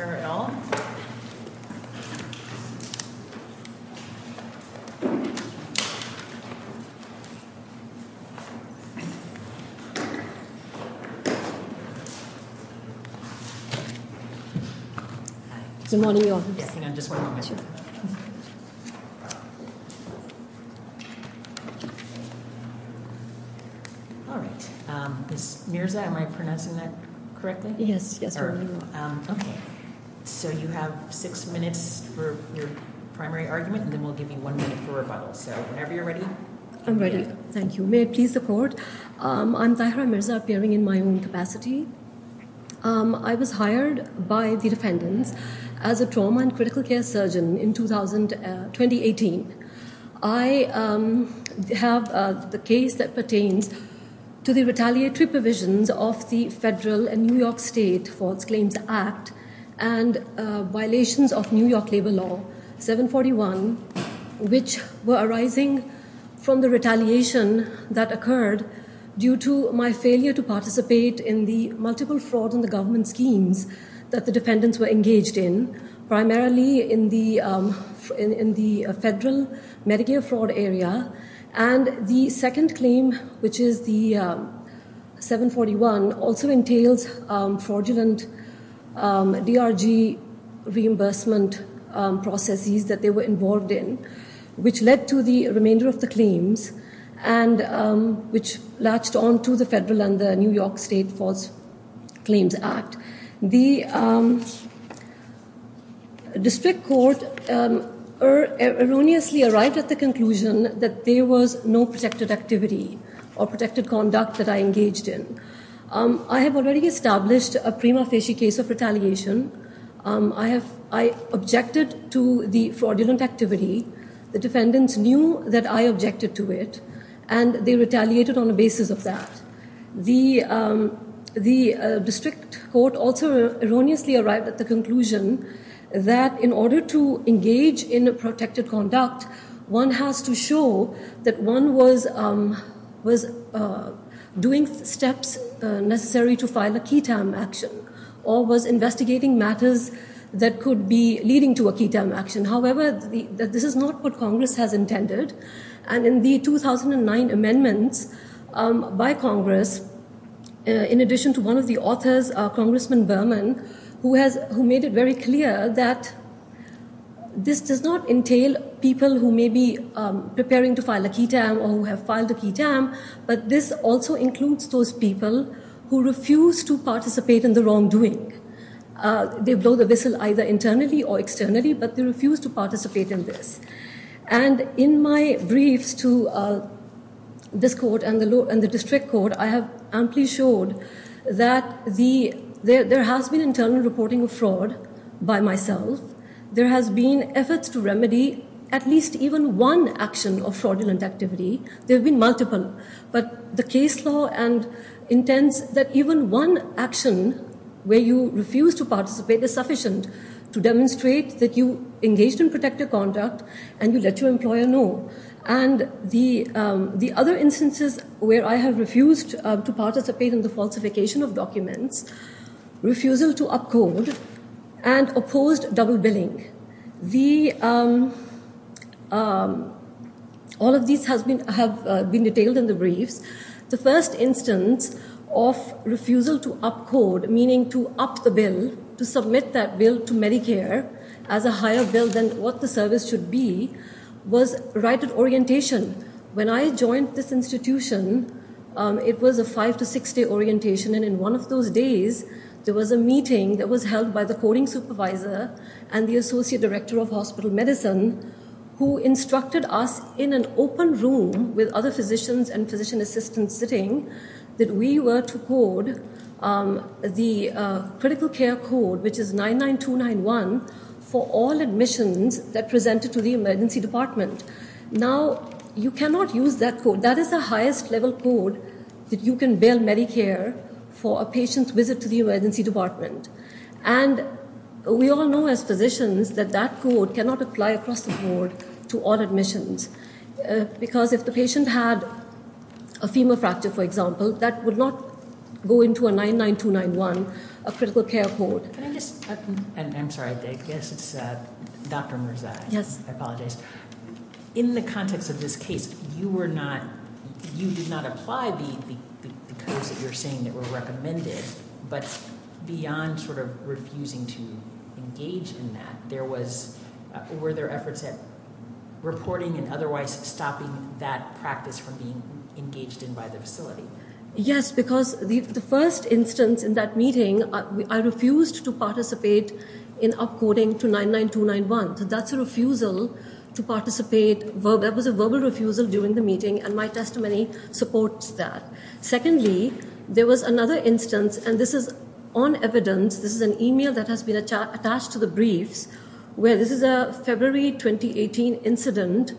at all? Good morning, everyone. Alright, Ms. Mirza, am I Yes, yes. So you have six minutes for your primary argument, and then we'll give you one minute for rebuttal. So whenever you're ready. I'm ready. Thank you. May I please support? I'm Tahira Mirza, appearing in my own capacity. I was hired by the defendants as a trauma and critical care surgeon in 2018. I have the case that pertains to the retaliatory provisions of the federal and New York State Faults Claims Act and violations of New York labor law 741 which were arising from the retaliation that occurred due to my failure to participate in the multiple fraud in the government schemes that the defendants were engaged in, primarily in the federal Medicare fraud area, and the second claim which is the 741 also entails fraudulent DRG reimbursement processes that they were involved in, which led to the remainder of the claims, and which latched on to the federal and the New York State Faults Claims Act. The district court erroneously arrived at the conclusion that there was no protected activity or protected conduct that I engaged in. I have already established a prima facie case of retaliation. I objected to the fraudulent activity. The defendants knew that I objected to it and they retaliated on the basis of that. The district court also erroneously arrived at the conclusion that in order to engage in a protected conduct one has to show that one was doing steps necessary to file a key time action, or was investigating matters that could be leading to a key time action. However, this is not what Congress has intended and in the 2009 amendments by Congress, in addition to one of the authors, Congressman Berman, who made it very clear that this does not entail people who may be preparing to file a key time or who have filed a key time, but this also includes those people who refuse to participate in the wrongdoing. They blow the whistle either internally or externally, but they refuse to participate in this. And in my briefs to this court and the district court, I have amply showed that there has been internal reporting of fraud by myself. There has been efforts to remedy at least even one action of fraudulent activity. There have been multiple, but the case law intends that even one action where you refuse to participate is sufficient to demonstrate that you engaged in protected conduct and you let your employer know. And the other instances where I have refused to participate in the falsification of documents, refusal to up code, and opposed double billing. All of these have been detailed in the briefs. The first instance of refusal to up code, meaning to up the bill, to submit that bill to Medicare as a higher bill than what the service should be, was right at orientation. When I joined this institution, it was a five to six day orientation, and in one of those days, there was a meeting that was held by the coding supervisor and the associate director of hospital medicine who instructed us in an open room with other physicians and physician assistants sitting, that we were to code the critical care code, which is 99291 for all admissions that presented to the emergency department. Now, you cannot use that code. That is the highest level code that you can bill Medicare for a patient's visit to the emergency department. And we all know as physicians that that code cannot apply across the board to all admissions because if the patient had a femur fracture, for example, that would not go into a 99291, a critical care code. I'm sorry, I guess it's Dr. Mirza, I apologize. In the context of this case, you were not, you did not apply the codes that you're saying that were recommended, but beyond sort of refusing to engage in that, there was, were there efforts at reporting and otherwise stopping that practice from being engaged in by the facility? Yes, because the first instance in that meeting, I refused to participate in upcoding to 99291. So that's a refusal to do in the meeting. And my testimony supports that. Secondly, there was another instance, and this is on evidence. This is an email that has been attached to the briefs where this is a February 2018 incident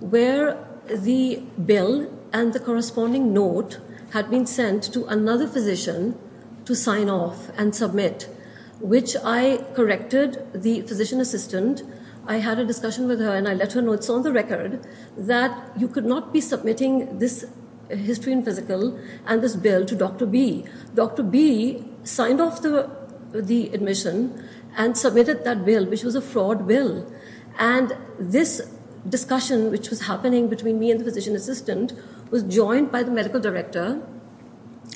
where the bill and the corresponding note had been sent to another physician to sign off and submit, which I corrected the physician assistant. I had a discussion with her and I let her know that it's on the record that you could not be submitting this history and physical and this bill to Dr. B. Dr. B signed off the admission and submitted that bill, which was a fraud bill. And this discussion, which was happening between me and the physician assistant, was joined by the medical director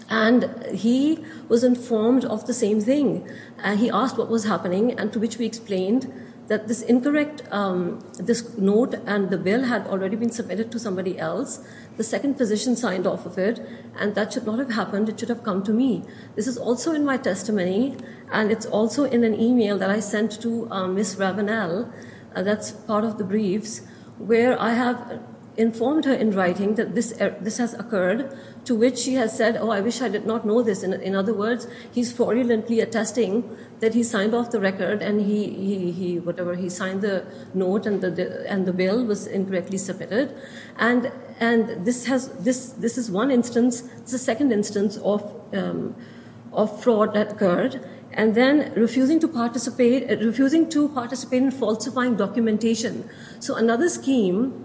and he was informed of the same thing. And he asked what was happening and to which we explained that this incorrect note and the bill had already been submitted to somebody else. The second physician signed off of it and that should not have happened. It should have come to me. This is also in my testimony and it's also in an email that I sent to Ms. Rabanel, that's part of the briefs, where I have informed her in writing that this has occurred, to which she has said, oh, I wish I did not know this. In other words, he's fraudulently attesting that he signed off the record and he signed the note and the bill was incorrectly submitted. And this is one instance. It's the second instance of fraud that occurred. And then refusing to participate in falsifying documentation. So another scheme,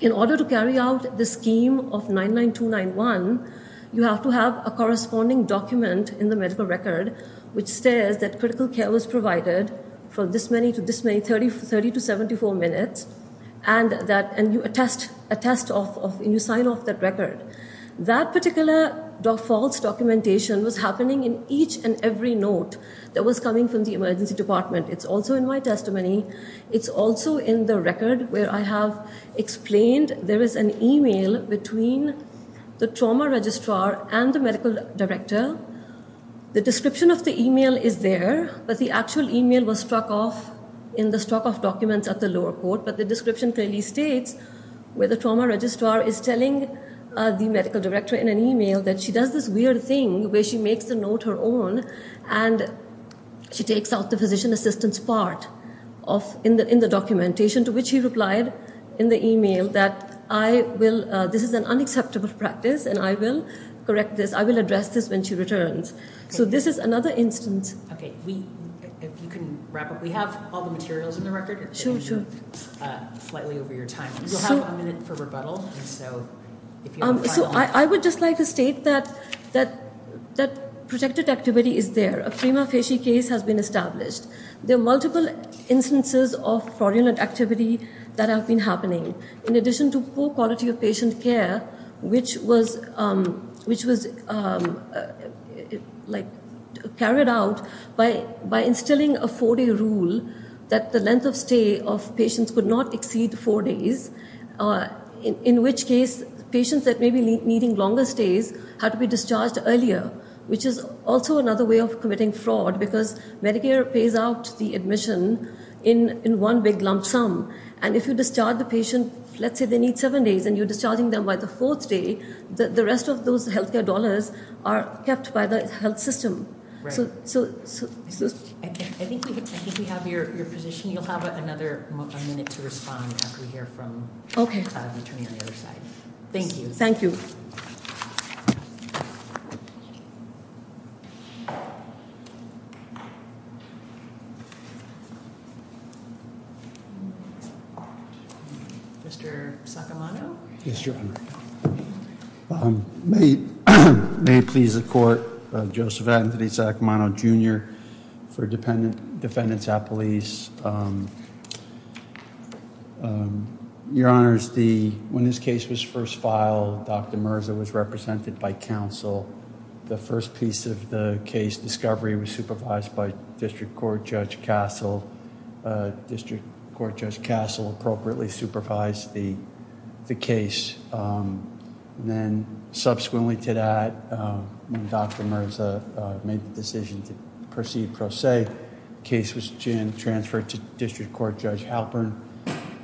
in order to carry out the scheme of 99291, you have to have a corresponding document in the medical record which says that critical care was provided for this many to this many, 30 to 74 minutes, and you sign off that record. That particular documentation was happening in each and every note that was coming from the emergency department. It's also in my testimony. It's also in the record where I have explained there is an email between the trauma registrar and the medical director. The description of the email is there, but the actual email was struck off in the struck off documents at the lower court, but the description clearly states where the trauma registrar is telling the medical director in an email that she does this weird thing where she makes the note her own and she takes out the physician assistant's part in the documentation, to which he replied in the email that this is an unacceptable practice and I will correct this. I will address this when she returns. So this is another instance. Okay. If you can wrap up. We have all the materials in the record. Sure, sure. If you can go slightly over your time. You'll have one minute for rebuttal. So I would just like to state that protected activity is there. A prima facie case has been established. There are multiple instances of fraudulent activity that have been happening. In addition to poor quality of patient care, which was carried out by instilling a four day rule that the length of stay of patients could not exceed four days, in which case patients that may be needing longer stays had to be discharged earlier, which is also another way of committing fraud because Medicare pays out the admission in one big lump sum, and if you discharge the patient, let's say they need seven days and you're discharging them by the fourth day, the rest of those healthcare dollars are kept by the health system. I think we have your position. You'll have another minute to respond after we hear from the attorney on the other side. Thank you. Thank you. Mr. Sacamano? May it please the court, Joseph Anthony Sacamano, Jr. for defendants at police. Your Honor, when this case was first filed, Dr. Merza was represented by counsel. The first piece of the case discovery was supervised by District Court Judge Castle. District Court Judge Castle appropriately supervised the case. Subsequently to that, when Dr. Merza made the decision to proceed pro se, the case was transferred to District Court Judge Halpern.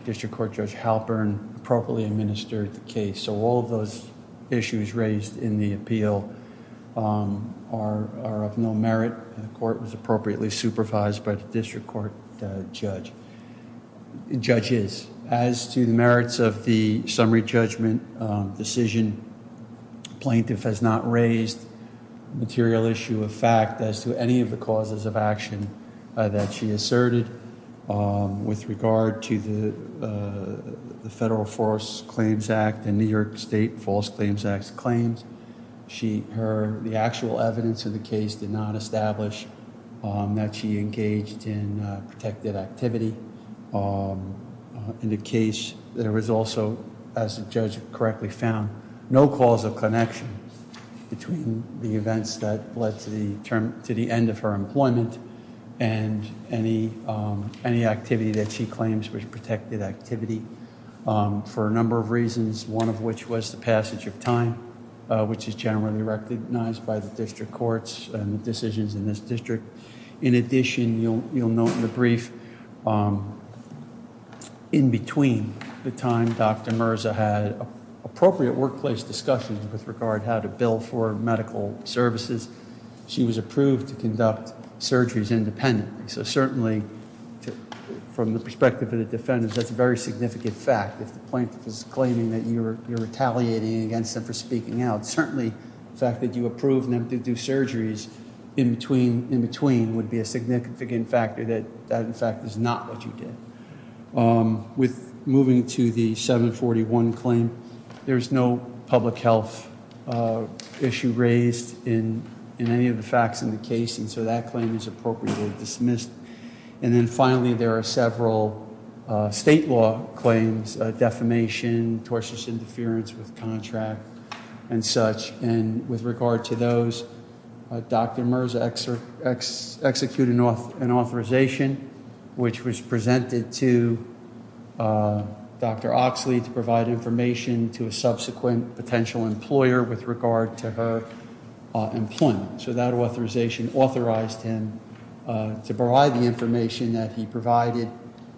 District Court Judge Halpern appropriately administered the case. All of those issues raised in the appeal are of no merit. The court was appropriately supervised by the District Court judges. As to the merits of the summary judgment decision, plaintiff has not raised material issue of fact as to any of the causes of action that she asserted with regard to the Federal Force Claims Act and New York State False Claims Act claims. The actual evidence of the case did not establish that she engaged in protected activity. In the case, there was also, as the judge correctly found, no cause of connection between the events that led to the end of her employment and any activity that she claims was protected activity for a number of reasons, one of which was the passage of time, which is generally recognized by the District Courts and the decisions in this district. In addition, you'll note in the brief, in between the time Dr. Merza had appropriate workplace discussions with regard how to bill for medical services, she was approved to conduct surgeries independently. So certainly from the perspective of the defendants, that's a very significant fact. If the plaintiff is claiming that you're retaliating against them for speaking out, certainly the fact that you approved them to do surgeries in between would be a significant factor that that, in fact, is not what you did. With moving to the 741 claim, there's no public health issue raised in any of the facts in the case, and so that claim is appropriately dismissed. And then finally, there are several state law claims, defamation, tortious interference with contract and such, and with regard to those, Dr. Merza executed an authorization which was presented to Dr. Oxley to provide information to a subsequent potential employer with regard to her employment. So that authorization authorized him to provide the information that he provided,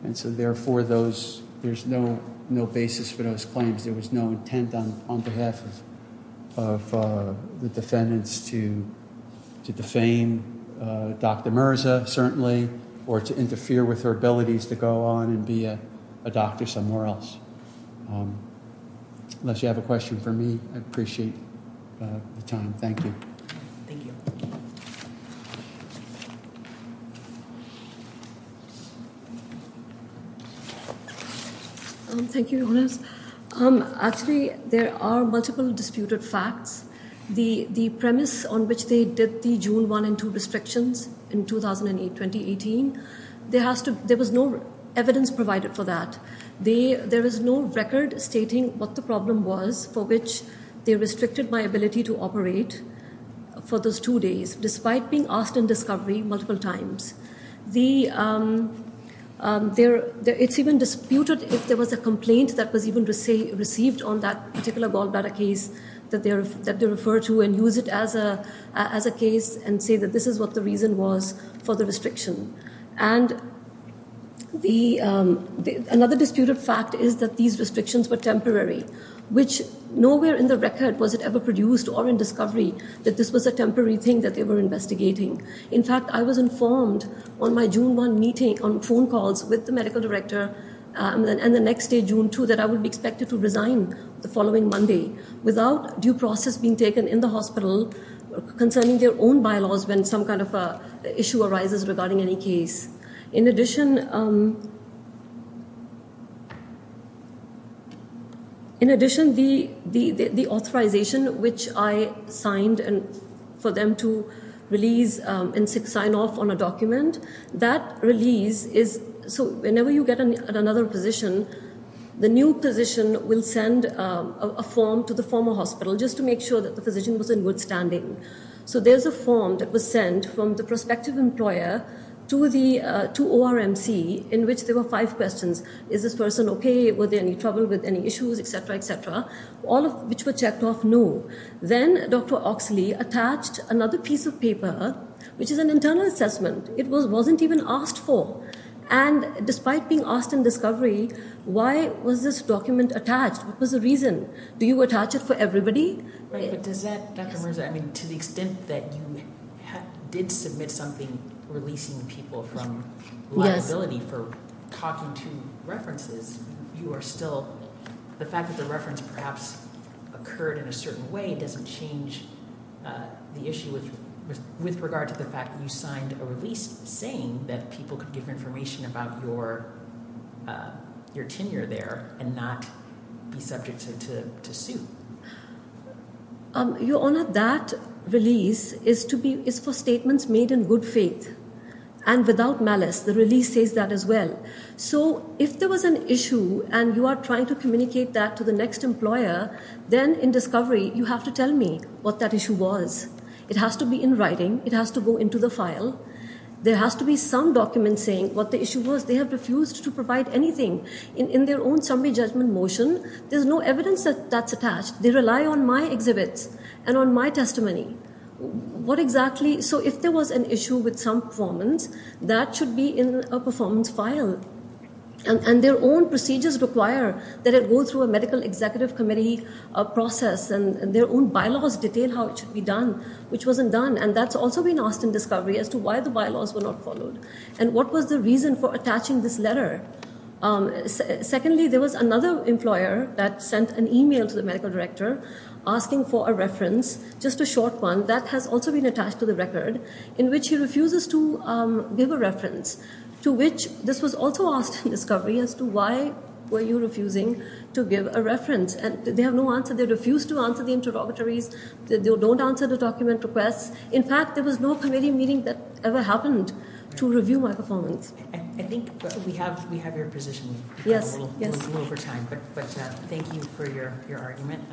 and so therefore there's no basis for those claims. There was no intent on behalf of the defendants to defame Dr. Merza, certainly, or to interfere with her abilities to go on and be a doctor somewhere else. Unless you have a question for me, I'd appreciate the time. Thank you. Thank you, Jonas. Actually, there are multiple disputed facts. The premise on which they did the June 1 and 2 restrictions in 2018, there was no evidence provided for that. There is no record stating what the problem was for which they restricted my ability to operate for those two days despite being asked in discovery multiple times. It's even disputed if there was a complaint that was even received on that particular gallbladder case that they refer to and use it as a case and say that this is what the restriction. And another disputed fact is that these restrictions were temporary, which nowhere in the record was it ever produced or in discovery that this was a temporary thing that they were investigating. In fact, I was informed on my June 1 meeting on phone calls with the medical director and the next day, June 2, that I would be expected to resign the following Monday without due process being taken in the hospital concerning their own bylaws when some kind of issue arises regarding any case. In addition, in addition, the authorization which I signed for them to release and sign off on a document, that release is, so whenever you get another position, the new position will send a form to the former hospital just to make sure that the physician was in good standing. So there's a form that was sent from the prospective employer to ORMC in which there were five questions. Is this person okay? Were there any trouble with any issues, etc., etc.? All of which were checked off, no. Then Dr. Oxley attached another piece of paper, which is an internal assessment. It wasn't even asked for. And despite being asked in discovery, why was this document attached? What was the reason? Do you attach it for everybody? But does that, Dr. Mirza, I mean, to the extent that you did submit something releasing people from liability for talking to references, you are still, the fact that the reference perhaps occurred in a certain way doesn't change the issue with regard to the fact that you signed a release saying that people could give information about your tenure there and not be subject to sue? Your Honour, that release is for statements made in good faith and without malice. The release says that as well. So if there was an issue and you are trying to communicate that to the next employer, then in discovery you have to tell me what that issue was. It has to be in writing. It has to go into the file. There has to be some document saying what the issue was. They have refused to provide anything. In their own summary judgment motion, there's no evidence that's attached. They rely on my exhibits and on my testimony. What exactly, so if there was an issue with some performance, that should be in a performance file. And their own procedures require that it go through a medical executive committee process and their own bylaws detail how it should be done, which wasn't done. And that's also been asked in discovery as to why the bylaws were not followed. And what was the reason for attaching this letter? Secondly, there was another employer that sent an email to the medical director asking for a reference, just a short one that has also been attached to the record, in which he refuses to give a reference, to which this was also asked in discovery as to why were you refusing to give a reference? And they have no answer. They refused to answer the interrogatories. They don't answer the document requests. In fact, there was no committee meeting that ever happened to review my performance. I think we have your position a little over time. But thank you for your argument.